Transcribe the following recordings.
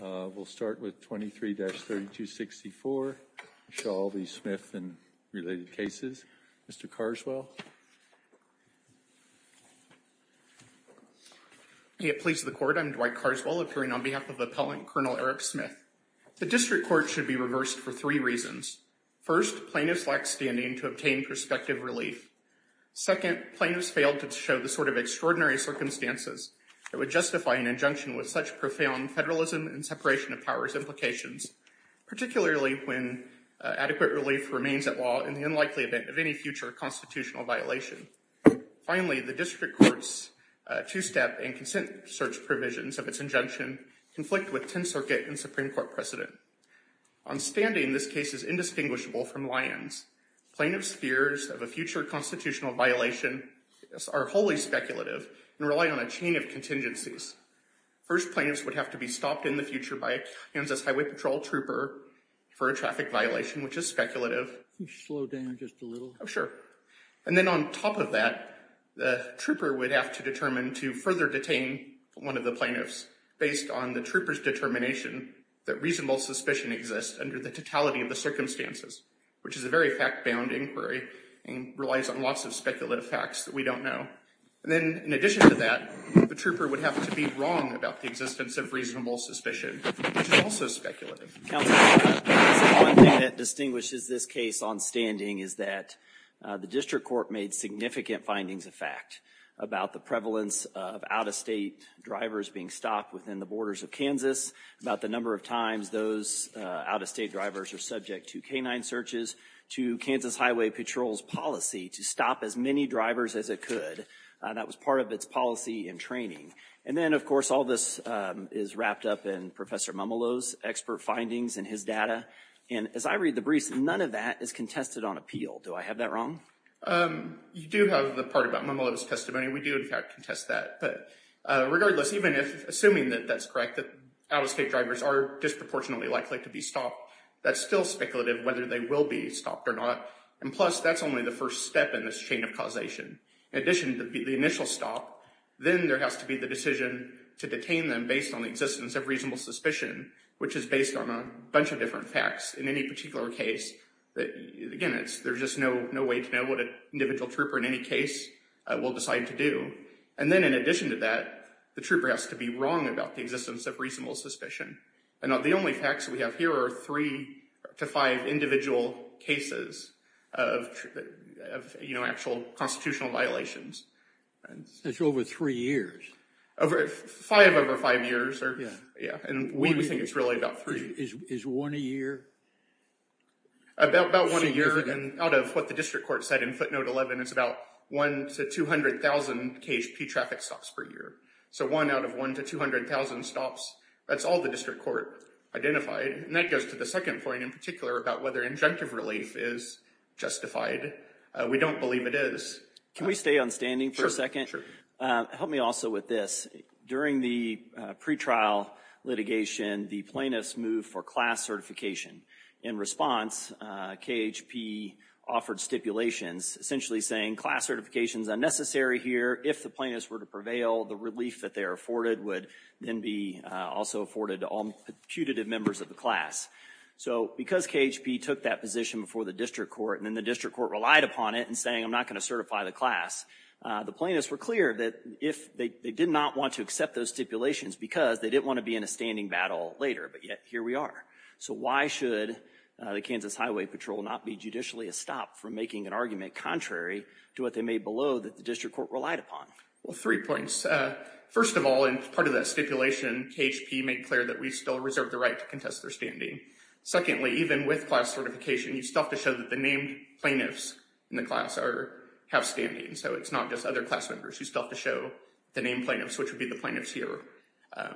We'll start with 23-3264. We'll show all these Smith and related cases. Mr. Carswell. May it please the court, I'm Dwight Carswell, appearing on behalf of Appellant Colonel Eric Smith. The district court should be reversed for three reasons. First, plaintiffs lack standing to obtain prospective relief. Second, plaintiffs failed to show the sort of extraordinary circumstances that would justify an injunction with such profound federalism and separation of powers implications, particularly when adequate relief remains at law in the unlikely event of any future constitutional violation. Finally, the district court's two-step and consent search provisions of its injunction conflict with 10th Circuit and Supreme Court precedent. On standing, this case is indistinguishable from Lyon's. Plaintiffs' fears of a future constitutional violation are wholly speculative and rely on a chain of contingencies. First, plaintiffs would have to be stopped in the future by a Kansas Highway Patrol trooper for a traffic violation, which is speculative. Can you slow down just a little? Oh, sure. And then on top of that, the trooper would have to determine to further detain one of the plaintiffs based on the trooper's determination that reasonable suspicion exists under the totality of the circumstances, which is a very fact-bound inquiry and relies on lots of speculative facts that we don't know. And then in addition to that, the trooper would have to be wrong about the existence of reasonable suspicion, which is also speculative. Counsel, one thing that distinguishes this case on standing is that the district court made significant findings of fact about the prevalence of out-of-state drivers being stopped within the borders of Kansas, about the number of times those out-of-state drivers are subject to canine searches, to Kansas Highway Patrol's policy to stop as many drivers as it could. That was part of its policy and training. And then, of course, all this is wrapped up in Professor Momolo's expert findings and his data. And as I read the briefs, none of that is contested on appeal. Do I have that wrong? You do have the part about Momolo's testimony. We do, in fact, contest that. But regardless, even if, assuming that that's correct, that out-of-state drivers are disproportionately likely to be stopped, that's still speculative whether they will be stopped or not. And plus, that's only the first step in this chain of causation. In addition to the initial stop, then there has to be the decision to detain them based on the existence of reasonable suspicion, which is based on a bunch of different facts in any particular case that, again, there's just no way to know what an individual trooper in any case will decide to do. And then, in addition to that, the trooper has to be wrong about the existence of reasonable suspicion. And the only facts we have here are three to five individual cases of actual constitutional violations. That's over three years. Over five, over five years. Yeah, and we think it's really about three. Is one a year? About one a year, and out of what the district court said in footnote 11, it's about one to 200,000 KHP traffic stops per year. So one out of one to 200,000 stops. That's all the district court identified. And that goes to the second point in particular about whether injunctive relief is justified. We don't believe it is. Can we stay on standing for a second? Sure, sure. Help me also with this. During the pretrial litigation, the plaintiffs moved for class certification. In response, KHP offered stipulations, essentially saying class certification's unnecessary here. If the plaintiffs were to prevail, the relief that they are afforded would then be also afforded to all putative members of the class. So because KHP took that position before the district court, and then the district court relied upon it, and saying I'm not gonna certify the class, the plaintiffs were clear that if they did not want to accept those stipulations because they didn't want to be in a standing battle later, but yet here we are. So why should the Kansas Highway Patrol not be judicially a stop from making an argument contrary to what they made below that the district court relied upon? Well, three points. First of all, in part of that stipulation, KHP made clear that we still reserve the right to contest their standing. Secondly, even with class certification, you still have to show that the named plaintiffs in the class have standing. So it's not just other class members. You still have to show the named plaintiffs, which would be the plaintiffs here.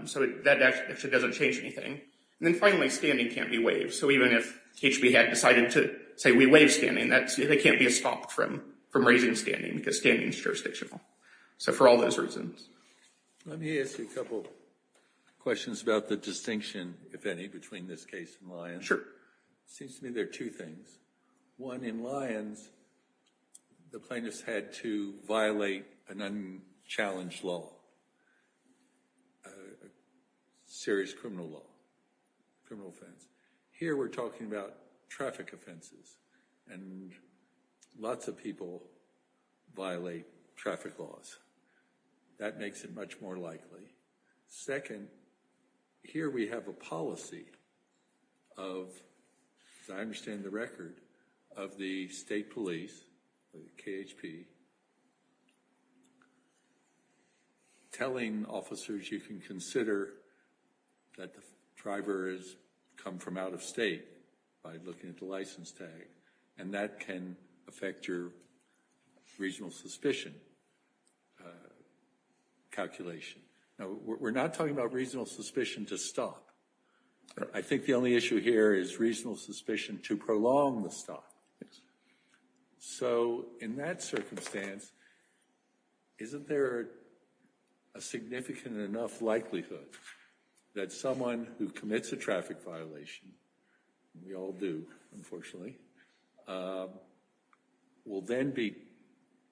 So that actually doesn't change anything. And then finally, standing can't be waived. So even if KHP had decided to say we waive standing, that can't be stopped from raising standing because standing's jurisdictional. So for all those reasons. Let me ask you a couple questions about the distinction, if any, between this case and Lyons. Sure. Seems to me there are two things. One, in Lyons, the plaintiffs had to violate an unchallenged law, a serious criminal law, criminal offense. Here we're talking about traffic offenses, and lots of people violate traffic laws. That makes it much more likely. Second, here we have a policy of, as I understand the record, of the state police, the KHP, telling officers you can consider that the driver has come from out of state by looking at the license tag. And that can affect your regional suspicion calculation. Now, we're not talking about regional suspicion to stop. I think the only issue here is regional suspicion to prolong the stop. Yes. So in that circumstance, isn't there a significant enough likelihood that someone who commits a traffic violation, and we all do, unfortunately, will then be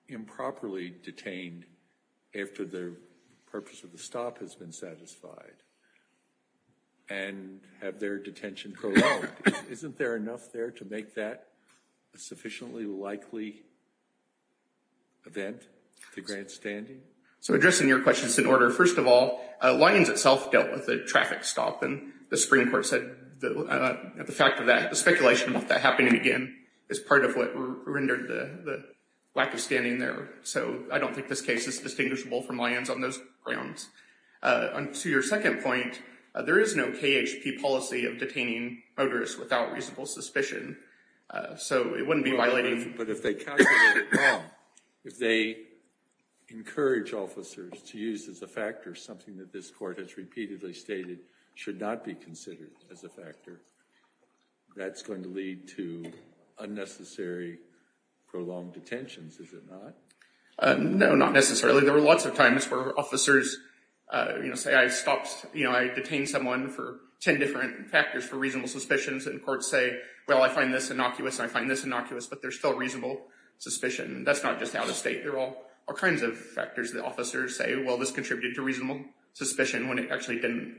improperly detained after their purpose of the stop has been satisfied, and have their detention prolonged? Isn't there enough there to make that a sufficiently likely event to grant standing? So addressing your question is in order. First of all, Lyons itself dealt with a traffic stop, and the Supreme Court said the fact of that, the speculation of that happening again is part of what rendered the lack of standing there. So I don't think this case is distinguishable from Lyons on those grounds. To your second point, there is no KHP policy of detaining motorists without reasonable suspicion. So it wouldn't be violating. But if they calculate it wrong, if they encourage officers to use as a factor something that this court has repeatedly stated should not be considered as a factor, that's going to lead to unnecessary prolonged detentions, is it not? No, not necessarily. There were lots of times where officers say, I detained someone for 10 different factors for reasonable suspicions, and courts say, well, I find this innocuous, and I find this innocuous, but there's still reasonable suspicion. That's not just out of state. There are all kinds of factors that officers say, well, this contributed to reasonable suspicion when it actually didn't.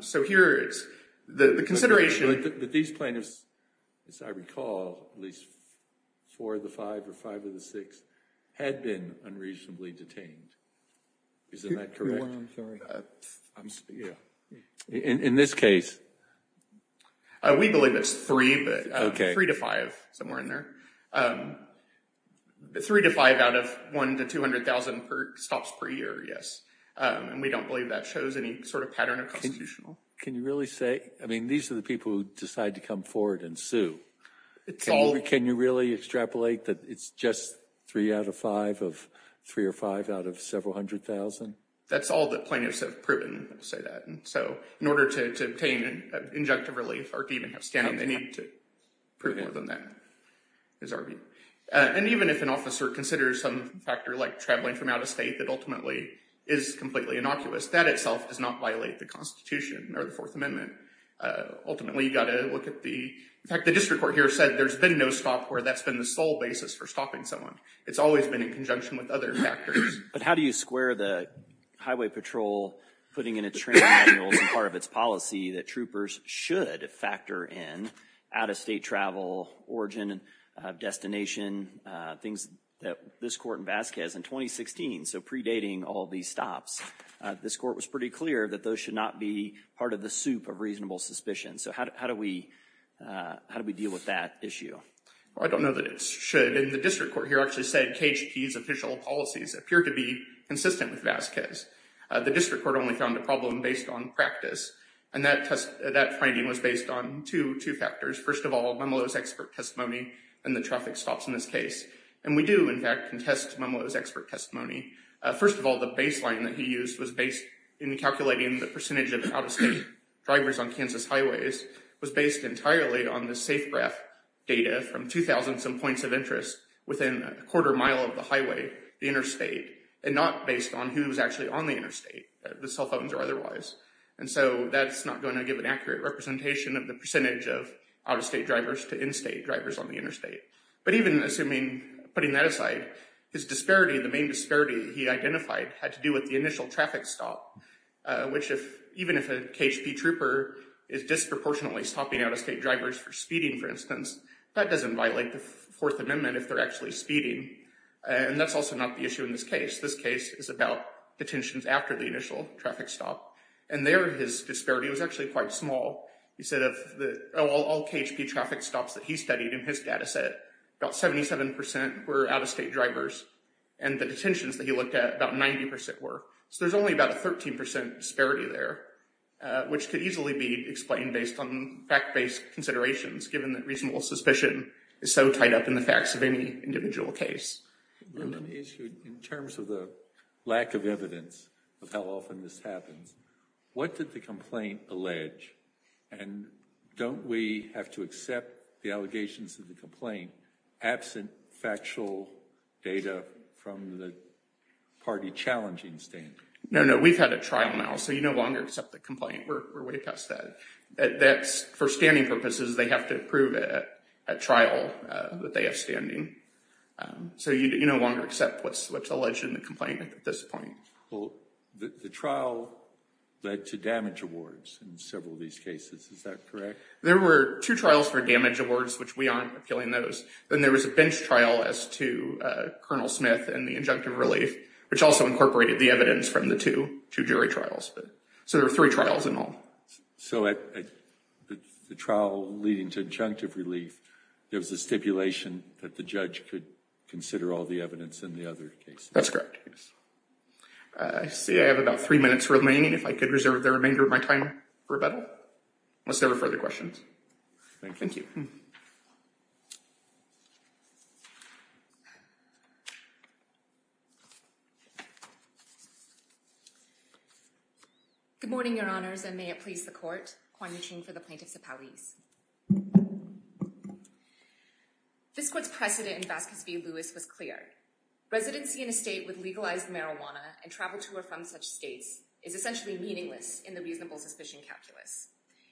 So here, it's the consideration. But these plaintiffs, as I recall, at least four of the five or five of the six had been unreasonably detained. Isn't that correct? You're wrong, sorry. Yeah. In this case? We believe it's three, but three to five, somewhere in there. Three to five out of one to 200,000 stops per year, yes. And we don't believe that shows any sort of pattern of constitutional. Can you really say, I mean, these are the people who decide to come forward and sue. It's all- Can you really extrapolate that it's just three out of five of three or five out of several hundred thousand? That's all the plaintiffs have proven, I'll say that. So in order to obtain injunctive relief, or to even have standing, they need to prove more than that, is our view. And even if an officer considers some factor like traveling from out-of-state that ultimately is completely innocuous, that itself does not violate the Constitution or the Fourth Amendment. Ultimately, you gotta look at the, in fact, the district court here said there's been no stop where that's been the sole basis for stopping someone. It's always been in conjunction with other factors. But how do you square the Highway Patrol putting in a training manual as part of its policy that troopers should factor in out-of-state travel, origin, destination, things that this court in Vasquez in 2016, so predating all these stops, this court was pretty clear that those should not be part of the soup of reasonable suspicion. So how do we deal with that issue? Well, I don't know that it should. And the district court here actually said KHP's official policies appear to be consistent with Vasquez. The district court only found a problem based on practice. And that finding was based on two factors. First of all, Momolo's expert testimony and the traffic stops in this case. And we do, in fact, contest Momolo's expert testimony. First of all, the baseline that he used was based in calculating the percentage of out-of-state drivers on Kansas highways was based entirely on the Safegraph data from 2,000 some points of interest within a quarter mile of the highway, the interstate, and not based on who was actually on the interstate, the cell phones or otherwise. And so that's not gonna give an accurate representation of the percentage of out-of-state drivers to in-state drivers on the interstate. But even assuming, putting that aside, his disparity, the main disparity he identified had to do with the initial traffic stop, which even if a KHP trooper is disproportionately stopping out-of-state drivers for speeding, for instance, that doesn't violate the Fourth Amendment if they're actually speeding. And that's also not the issue in this case. This case is about detentions after the initial traffic stop. And there, his disparity was actually quite small. He said of all KHP traffic stops that he studied in his data set, about 77% were out-of-state drivers. And the detentions that he looked at, about 90% were. So there's only about a 13% disparity there, which could easily be explained based on fact-based considerations, given that reasonable suspicion is so tied up in the facts of any individual case. And then the issue in terms of the lack of evidence of how often this happens, what did the complaint allege? And don't we have to accept the allegations of the complaint absent factual data from the party challenging stand? No, no, we've had a trial now, so you no longer accept the complaint. We're way past that. That's, for standing purposes, they have to approve a trial that they have standing. So you no longer accept what's alleged in the complaint at this point. Well, the trial led to damage awards in several of these cases, is that correct? There were two trials for damage awards, which we aren't appealing those. Then there was a bench trial as to Colonel Smith and the injunctive relief, which also incorporated the evidence from the two, two jury trials. So there were three trials in all. So at the trial leading to injunctive relief, there was a stipulation that the judge could consider all the evidence in the other cases. That's correct, yes. I see I have about three minutes remaining if I could reserve the remainder of my time for rebuttal, unless there were further questions. Thank you. Good morning, your honors, and may it please the court, Kwan-Yi Ching for the Plaintiffs Appellees. This court's precedent in Vasquez v. Lewis was clear. Residency in a state with legalized marijuana and travel to or from such states is essentially meaningless in the reasonable suspicion calculus.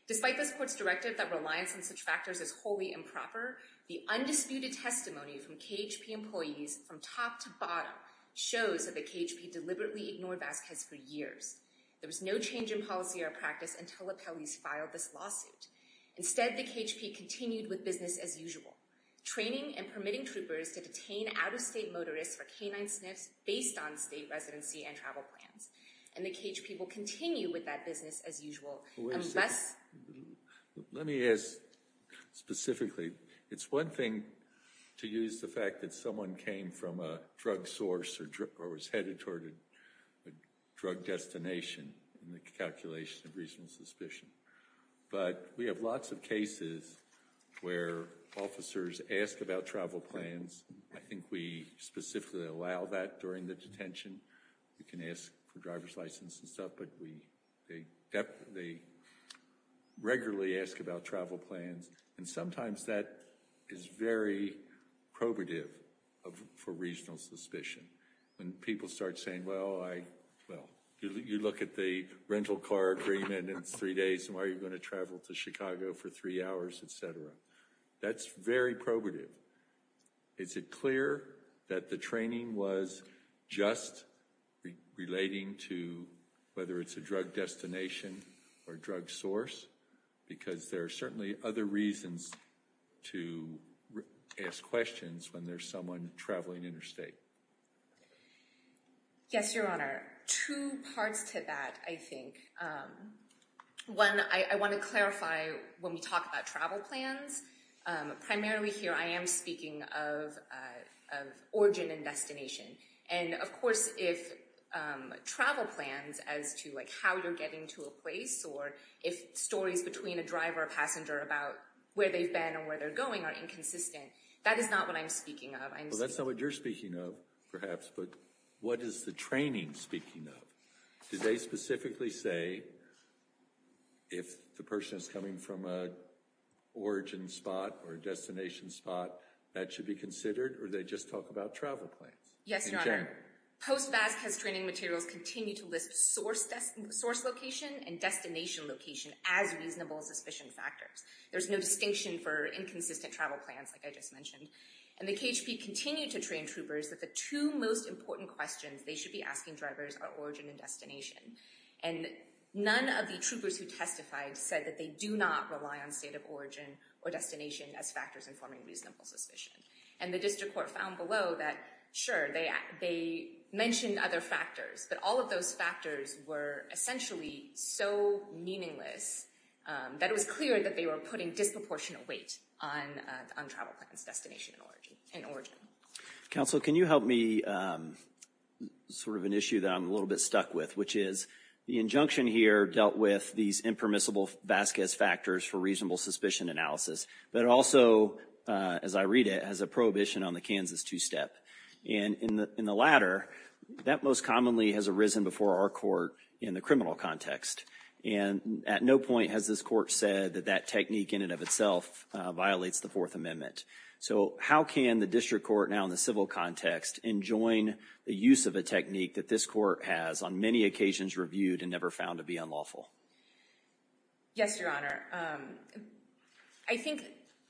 Despite this court's directive that reliance on such factors is wholly improper, the undisputed testimony from KHP employees from top to bottom shows that the KHP deliberately ignored Vasquez for years. There was no change in policy or practice until appellees filed this lawsuit. Instead, the KHP continued with business as usual, training and permitting troopers to detain out-of-state motorists for canine sniffs based on state residency and travel plans, and the KHP will continue with that business as usual. And thus- Let me ask specifically. It's one thing to use the fact that someone came from a drug source or was headed toward a drug destination in the calculation of reasonable suspicion, but we have lots of cases where officers ask about travel plans. I think we specifically allow that during the detention. We can ask for driver's license and stuff, but they regularly ask about travel plans, and sometimes that is very probative for reasonable suspicion. When people start saying, well, you look at the rental car agreement, and it's three days, and why are you gonna travel to Chicago for three hours, et cetera? That's very probative. Is it clear that the training was just relating to whether it's a drug destination or drug source? Because there are certainly other reasons to ask questions when there's someone traveling interstate. Yes, Your Honor. Two parts to that, I think. One, I wanna clarify when we talk about travel plans. Primarily here, I am speaking of origin and destination, and of course, if travel plans as to how you're getting to a place or if stories between a driver or passenger about where they've been or where they're going are inconsistent, that is not what I'm speaking of. Well, that's not what you're speaking of, perhaps, but what is the training speaking of? Do they specifically say if the person is coming from a origin spot or a destination spot, that should be considered, or do they just talk about travel plans? Yes, Your Honor. Post-VASC has training materials continue to list source location and destination location as reasonable suspicion factors. There's no distinction for inconsistent travel plans, like I just mentioned. And the KHP continue to train troopers that the two most important questions they should be asking drivers are origin and destination. And none of the troopers who testified said that they do not rely on state of origin or destination as factors informing reasonable suspicion. And the district court found below that, sure, they mentioned other factors, but all of those factors were essentially so meaningless that it was clear that they were putting disproportionate weight on travel plans, destination, and origin. Counsel, can you help me? Sort of an issue that I'm a little bit stuck with, which is the injunction here dealt with these impermissible VASC as factors for reasonable suspicion analysis, but also, as I read it, has a prohibition on the Kansas two-step. And in the latter, that most commonly has arisen before our court in the criminal context. And at no point has this court said that that technique in and of itself violates the Fourth Amendment. So how can the district court now in the civil context enjoin the use of a technique that this court has on many occasions reviewed and never found to be unlawful? Yes, Your Honor. I think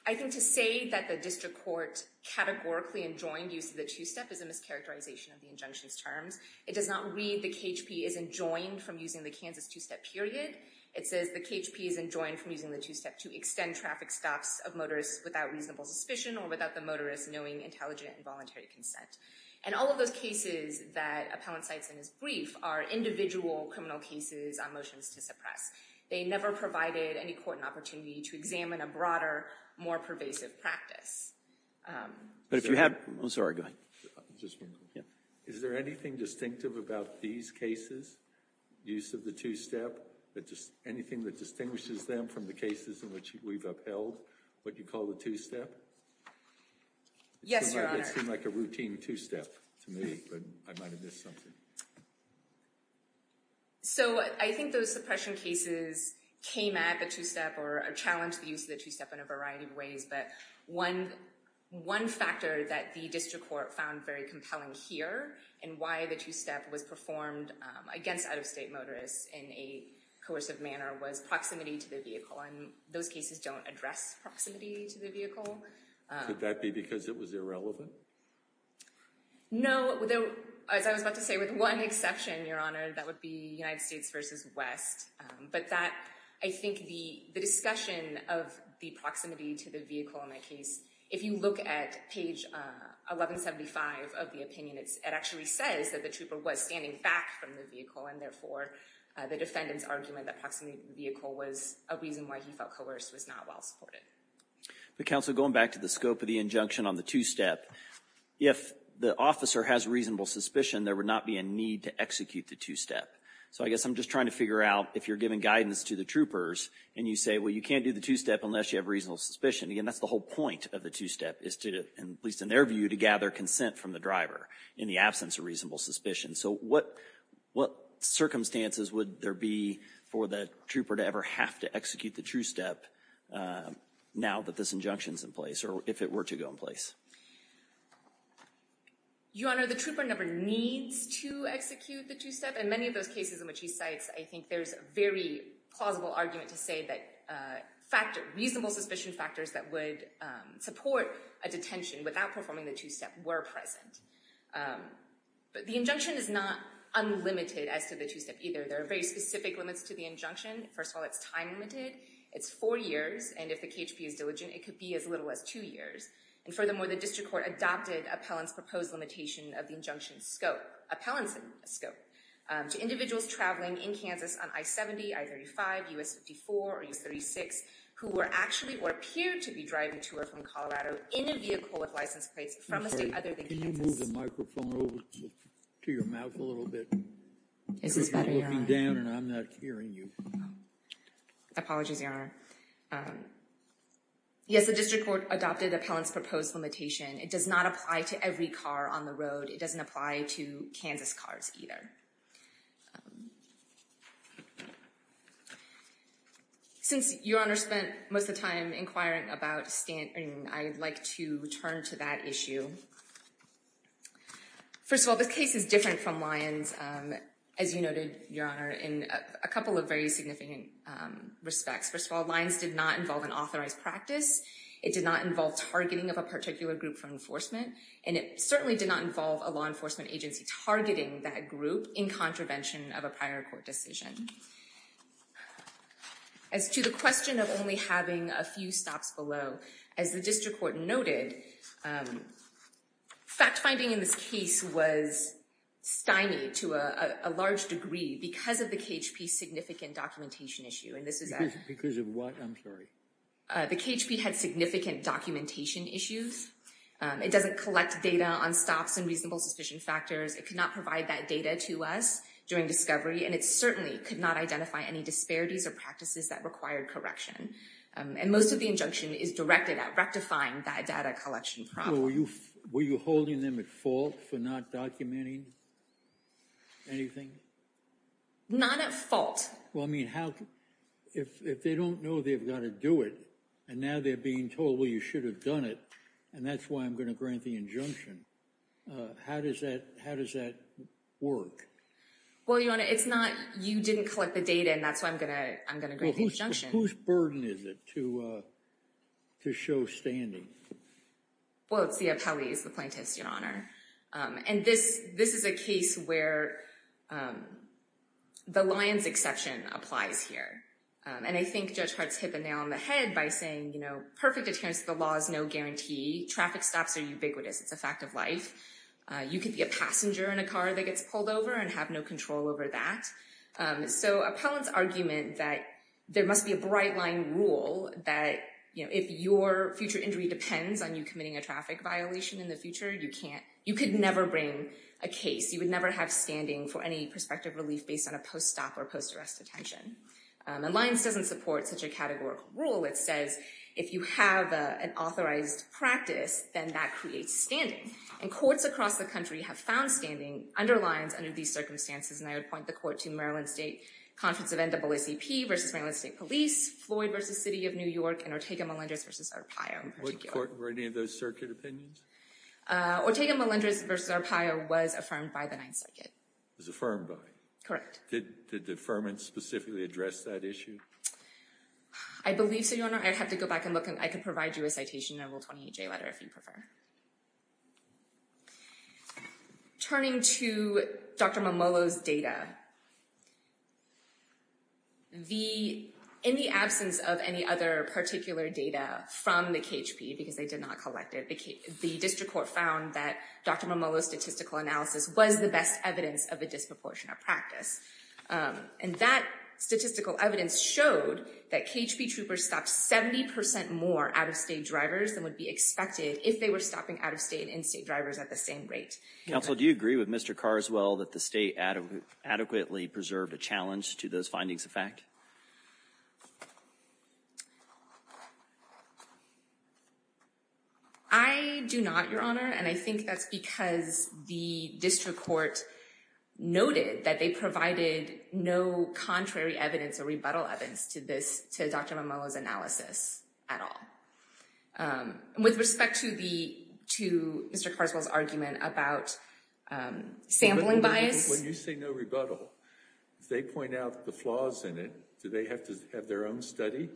to say that the district court categorically enjoined use of the two-step is a mischaracterization of the injunction's terms. It does not read the KHP as enjoined from using the Kansas two-step period. It says the KHP is enjoined from using the two-step to extend traffic stops of motors without reasonable suspicion or without the motorist knowing intelligent and voluntary consent. And all of those cases that Appellant cites in his brief are individual criminal cases on motions to suppress. They never provided any court an opportunity to examine a broader, more pervasive practice. But if you have, oh, sorry, go ahead. Is there anything distinctive about these cases, use of the two-step, anything that distinguishes them from the cases in which we've upheld, what you call the two-step? Yes, Your Honor. It seemed like a routine two-step to me, but I might have missed something. So I think those suppression cases came at the two-step or challenged the use of the two-step in a variety of ways. But one factor that the district court found very compelling here and why the two-step was performed against out-of-state motorists in a coercive manner was proximity to the vehicle. And those cases don't address proximity to the vehicle. Could that be because it was irrelevant? No, as I was about to say, with one exception, Your Honor, that would be United States versus West. But that, I think the discussion of the proximity to the vehicle in that case, if you look at page 1175 of the opinion, it actually says that the trooper was standing back from the vehicle and therefore the defendant's argument that proximity to the vehicle was a reason why he felt coerced was not well supported. But counsel, going back to the scope of the injunction on the two-step, if the officer has reasonable suspicion, there would not be a need to execute the two-step. So I guess I'm just trying to figure out if you're giving guidance to the troopers and you say, well, you can't do the two-step unless you have reasonable suspicion. Again, that's the whole point of the two-step is to, at least in their view, to gather consent from the driver in the absence of reasonable suspicion. So what circumstances would there be for the trooper to ever have to execute the two-step now that this injunction's in place or if it were to go in place? Your Honor, the trooper never needs to execute the two-step. In many of those cases in which he cites, I think there's a very plausible argument to say that reasonable suspicion factors that would support a detention without performing the two-step were present. But the injunction is not unlimited as to the two-step either. There are very specific limits to the injunction. First of all, it's time limited. It's four years, and if the KHB is diligent, it could be as little as two years. And furthermore, the district court adopted Appellant's proposed limitation of the injunction scope, Appellant's scope, to individuals traveling in Kansas on I-70, I-35, U.S. 54, or U.S. 36, who were actually or appeared to be driving to or from Colorado in a vehicle with license plates from a state other than Kansas. Can you move the microphone over to your mouth a little bit? Is this better, Your Honor? You're looking down, and I'm not hearing you. Apologies, Your Honor. Yes, the district court adopted Appellant's proposed limitation. It does not apply to every car on the road. It doesn't apply to Kansas cars either. Since Your Honor spent most of the time inquiring about standing, I'd like to turn to that issue. First of all, this case is different from Lyons, as you noted, Your Honor, in a couple of very significant respects. First of all, Lyons did not involve an authorized practice. It did not involve targeting of a particular group for enforcement, and it certainly did not involve a law enforcement agency targeting that group in contravention of a prior court decision. As to the question of only having a few stops below, as the district court noted, fact-finding in this case was stymied to a large degree because of the KHP's significant documentation issue, and this is a... Because of what? I'm sorry. The KHP had significant documentation issues. It doesn't collect data on stops and reasonable suspicion factors. It could not provide that data to us during discovery, and it certainly could not identify any disparities or practices that required correction. And most of the injunction is directed at rectifying that data collection problem. Were you holding them at fault for not documenting anything? Not at fault. Well, I mean, if they don't know they've gotta do it, and now they're being told, well, you should have done it, and that's why I'm gonna grant the injunction, how does that work? Well, Your Honor, it's not you didn't collect the data, and that's why I'm gonna grant the injunction. Whose burden is it to show standing? Well, it's the appellees, the plaintiffs, Your Honor. And this is a case where the lion's exception applies here. And I think Judge Hart's hit the nail on the head by saying, you know, perfect adherence to the law is no guarantee. Traffic stops are ubiquitous. It's a fact of life. You could be a passenger in a car that gets pulled over and have no control over that. So appellant's argument that there must be a bright line rule that, you know, if your future injury depends on you committing a traffic violation in the future, you can't, you could never bring a case. You would never have standing for any prospective relief based on a post-stop or post-arrest detention. And lion's doesn't support such a categorical rule. It says if you have an authorized practice, then that creates standing. And courts across the country have found standing under lions under these circumstances, and I would point the court to Maryland State Conference of NAACP versus Maryland State Police, Floyd versus City of New York, and Ortega Melendez versus Arpaio in particular. Were any of those circuit opinions? Ortega Melendez versus Arpaio was affirmed by the Ninth Circuit. Was affirmed by? Correct. Did the deferment specifically address that issue? I believe so, Your Honor. I'd have to go back and look, and I can provide you a citation and a Rule 28J letter if you prefer. Turning to Dr. Momolo's data, in the absence of any other particular data from the KHP, because they did not collect it, the district court found that Dr. Momolo's statistical analysis was the best evidence of a disproportionate practice. And that statistical evidence showed that KHP troopers stopped 70% more out-of-state drivers than would be expected if they were to be arrested for stopping out-of-state and in-state drivers at the same rate. Counsel, do you agree with Mr. Carswell that the state adequately preserved a challenge to those findings of fact? I do not, Your Honor, and I think that's because the district court noted that they provided no contrary evidence or rebuttal evidence to Dr. Momolo's analysis at all. With respect to Mr. Carswell's argument about sampling bias. When you say no rebuttal, if they point out the flaws in it, do they have to have their own study?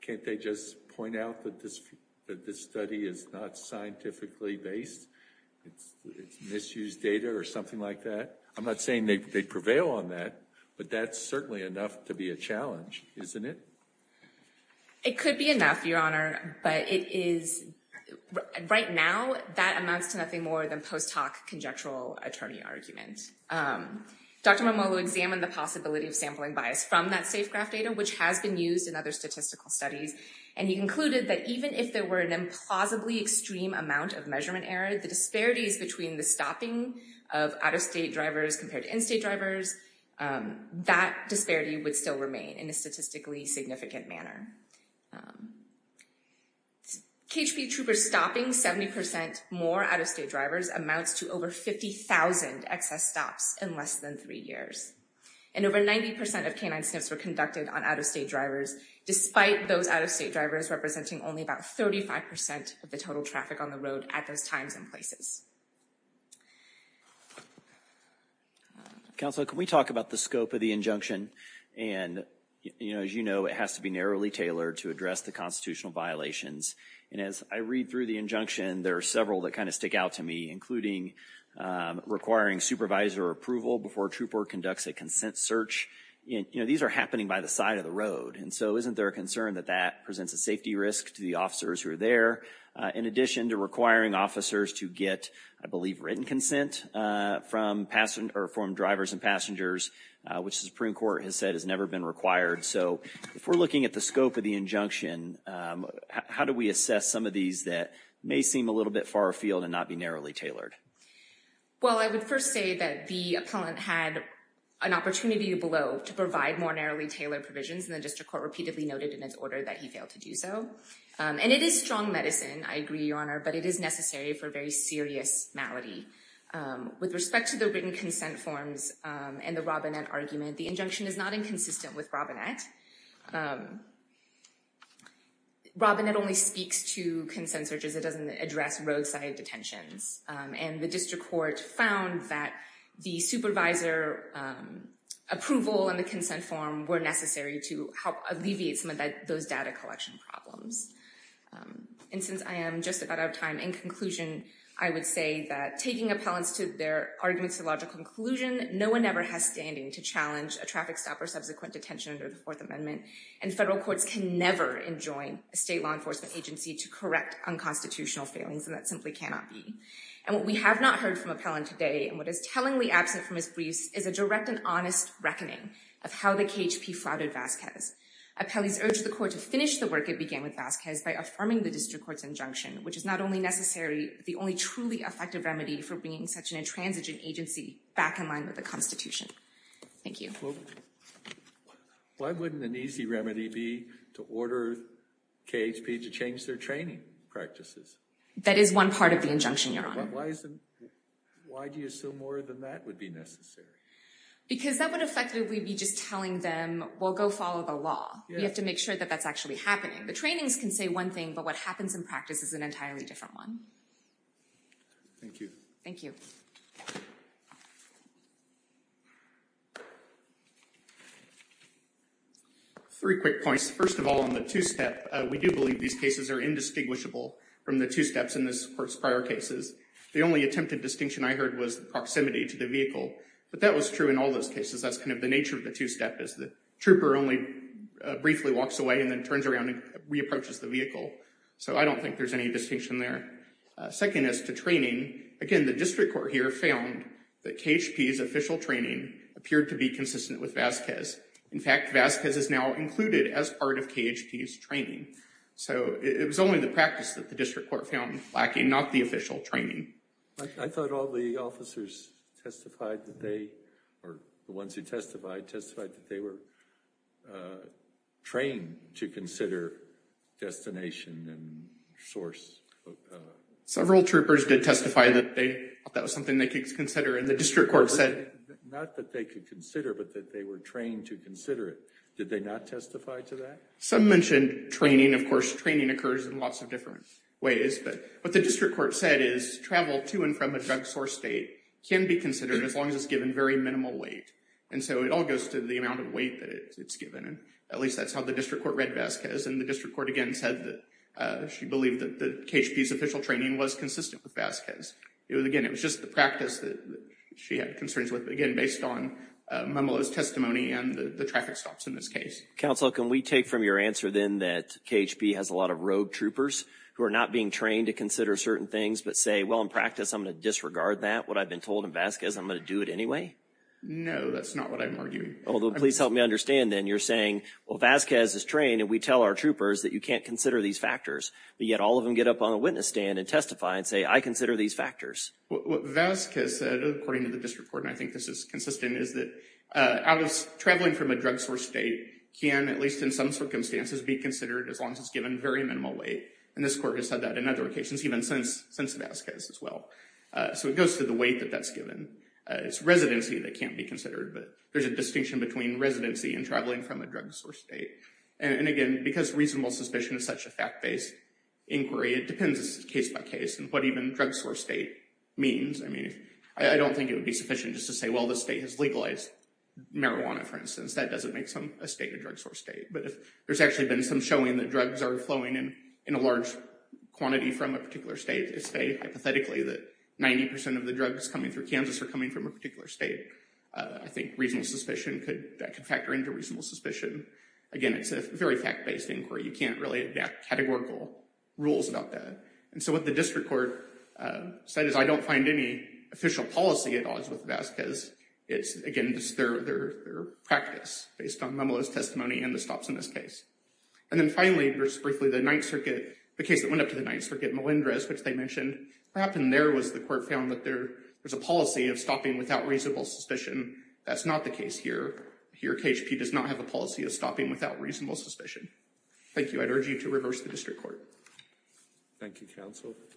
Can't they just point out that this study is not scientifically based? It's misused data or something like that? I'm not saying they prevail on that, but that's certainly enough to be a challenge, isn't it? It could be enough, Your Honor, but right now that amounts to nothing more than post hoc conjectural attorney argument. Dr. Momolo examined the possibility of sampling bias from that safe graph data, which has been used in other statistical studies, and he concluded that even if there were an implausibly extreme amount of measurement error, the disparities between the stopping of out-of-state drivers compared to in-state drivers, that disparity would still remain in a statistically significant manner. KHB troopers stopping 70% more out-of-state drivers amounts to over 50,000 excess stops in less than three years. And over 90% of canine sniffs were conducted on out-of-state drivers, despite those out-of-state drivers representing only about 35% of the total traffic on the road at those times and places. Counselor, can we talk about the scope of the injunction and, as you know, it has to be narrowly tailored to address the constitutional violations. And as I read through the injunction, there are several that kind of stick out to me, including requiring supervisor approval before a trooper conducts a consent search. These are happening by the side of the road, and so isn't there a concern that that presents a safety risk to the officers who are there, in addition to requiring officers to get, I believe, written consent from drivers and passengers, which the Supreme Court has said has never been required. So if we're looking at the scope of the injunction, how do we assess some of these that may seem a little bit far afield and not be narrowly tailored? Well, I would first say that the appellant had an opportunity below to provide more narrowly tailored provisions, and the district court repeatedly noted in its order that he failed to do so. And it is strong medicine, I agree, Your Honor, but it is necessary for very serious malady. With respect to the written consent forms and the Robinette argument, the injunction is not inconsistent with Robinette. Robinette only speaks to consent searches. It doesn't address roadside detentions. And the district court found that the supervisor approval and the consent form were necessary to help alleviate some of those data collection problems. And since I am just about out of time, in conclusion, I would say that taking appellants to their arguments to logical conclusion no one ever has standing to challenge a traffic stop or subsequent detention under the Fourth Amendment, and federal courts can never enjoin a state law enforcement agency to correct unconstitutional failings, and that simply cannot be. And what we have not heard from appellant today and what is tellingly absent from his briefs is a direct and honest reckoning of how the KHP flouted Vasquez. Appellees urged the court to finish the work it began with Vasquez by affirming the district court's injunction, which is not only necessary, the only truly effective remedy for bringing such an intransigent agency back in line with the Constitution. Thank you. Why wouldn't an easy remedy be to order KHP to change their training practices? That is one part of the injunction, Your Honor. Why do you assume more than that would be necessary? Because that would effectively be just telling them, well, go follow the law. You have to make sure that that's actually happening. The trainings can say one thing, but what happens in practice is an entirely different one. Thank you. Thank you. Thank you. Three quick points. First of all, on the two-step, we do believe these cases are indistinguishable from the two-steps in this court's prior cases. The only attempted distinction I heard was proximity to the vehicle, but that was true in all those cases. That's kind of the nature of the two-step is the trooper only briefly walks away and then turns around and re-approaches the vehicle. So I don't think there's any distinction there. Second is to training. Again, the district court here found that KHP's official training appeared to be consistent with Vasquez. In fact, Vasquez is now included as part of KHP's training. So it was only the practice that the district court found lacking, not the official training. I thought all the officers testified that they, or the ones who testified, testified that they were trained to consider destination and source. Several troopers did testify that that was something they could consider, and the district court said. Not that they could consider, but that they were trained to consider it. Did they not testify to that? Some mentioned training. Of course, training occurs in lots of different ways, but what the district court said is travel to and from a drug source state can be considered as long as it's given very minimal weight. And so it all goes to the amount of weight that it's given. At least that's how the district court read Vasquez, and the district court again said that she believed that KHP's official training was consistent with Vasquez. It was, again, it was just the practice that she had concerns with, but again, based on Momolo's testimony and the traffic stops in this case. Counsel, can we take from your answer then that KHP has a lot of rogue troopers who are not being trained to consider certain things, but say, well, in practice, I'm gonna disregard that. What I've been told in Vasquez, I'm gonna do it anyway? No, that's not what I'm arguing. Although please help me understand then, you're saying, well, Vasquez is trained, and we tell our troopers that you can't consider these factors. But yet all of them get up on the witness stand and testify and say, I consider these factors. What Vasquez said, according to the district court, and I think this is consistent, is that traveling from a drug-sourced state can, at least in some circumstances, be considered as long as it's given very minimal weight. And this court has said that in other occasions, even since Vasquez as well. So it goes to the weight that that's given. It's residency that can't be considered, but there's a distinction between residency and traveling from a drug-sourced state. And again, because reasonable suspicion is such a fact-based inquiry, it depends case by case on what even drug-sourced state means. I mean, I don't think it would be sufficient just to say, well, the state has legalized marijuana, for instance. That doesn't make a state a drug-sourced state. But if there's actually been some showing that drugs are flowing in a large quantity from a particular state, let's say, hypothetically, that 90% of the drugs coming through Kansas are coming from a particular state, I think reasonable suspicion could, that could factor into reasonable suspicion. Again, it's a very fact-based inquiry. You can't really adapt categorical rules about that. And so what the district court said is, I don't find any official policy at odds with Vasquez. It's, again, just their practice based on Momolo's testimony and the stops in this case. And then finally, just briefly, the Ninth Circuit, the case that went up to the Ninth Circuit, Melendrez, which they mentioned, what happened there was the court found that there was a policy of stopping without reasonable suspicion. That's not the case here. Here, KHP does not have a policy of stopping without reasonable suspicion. Thank you. I'd urge you to reverse the district court. Thank you, counsel.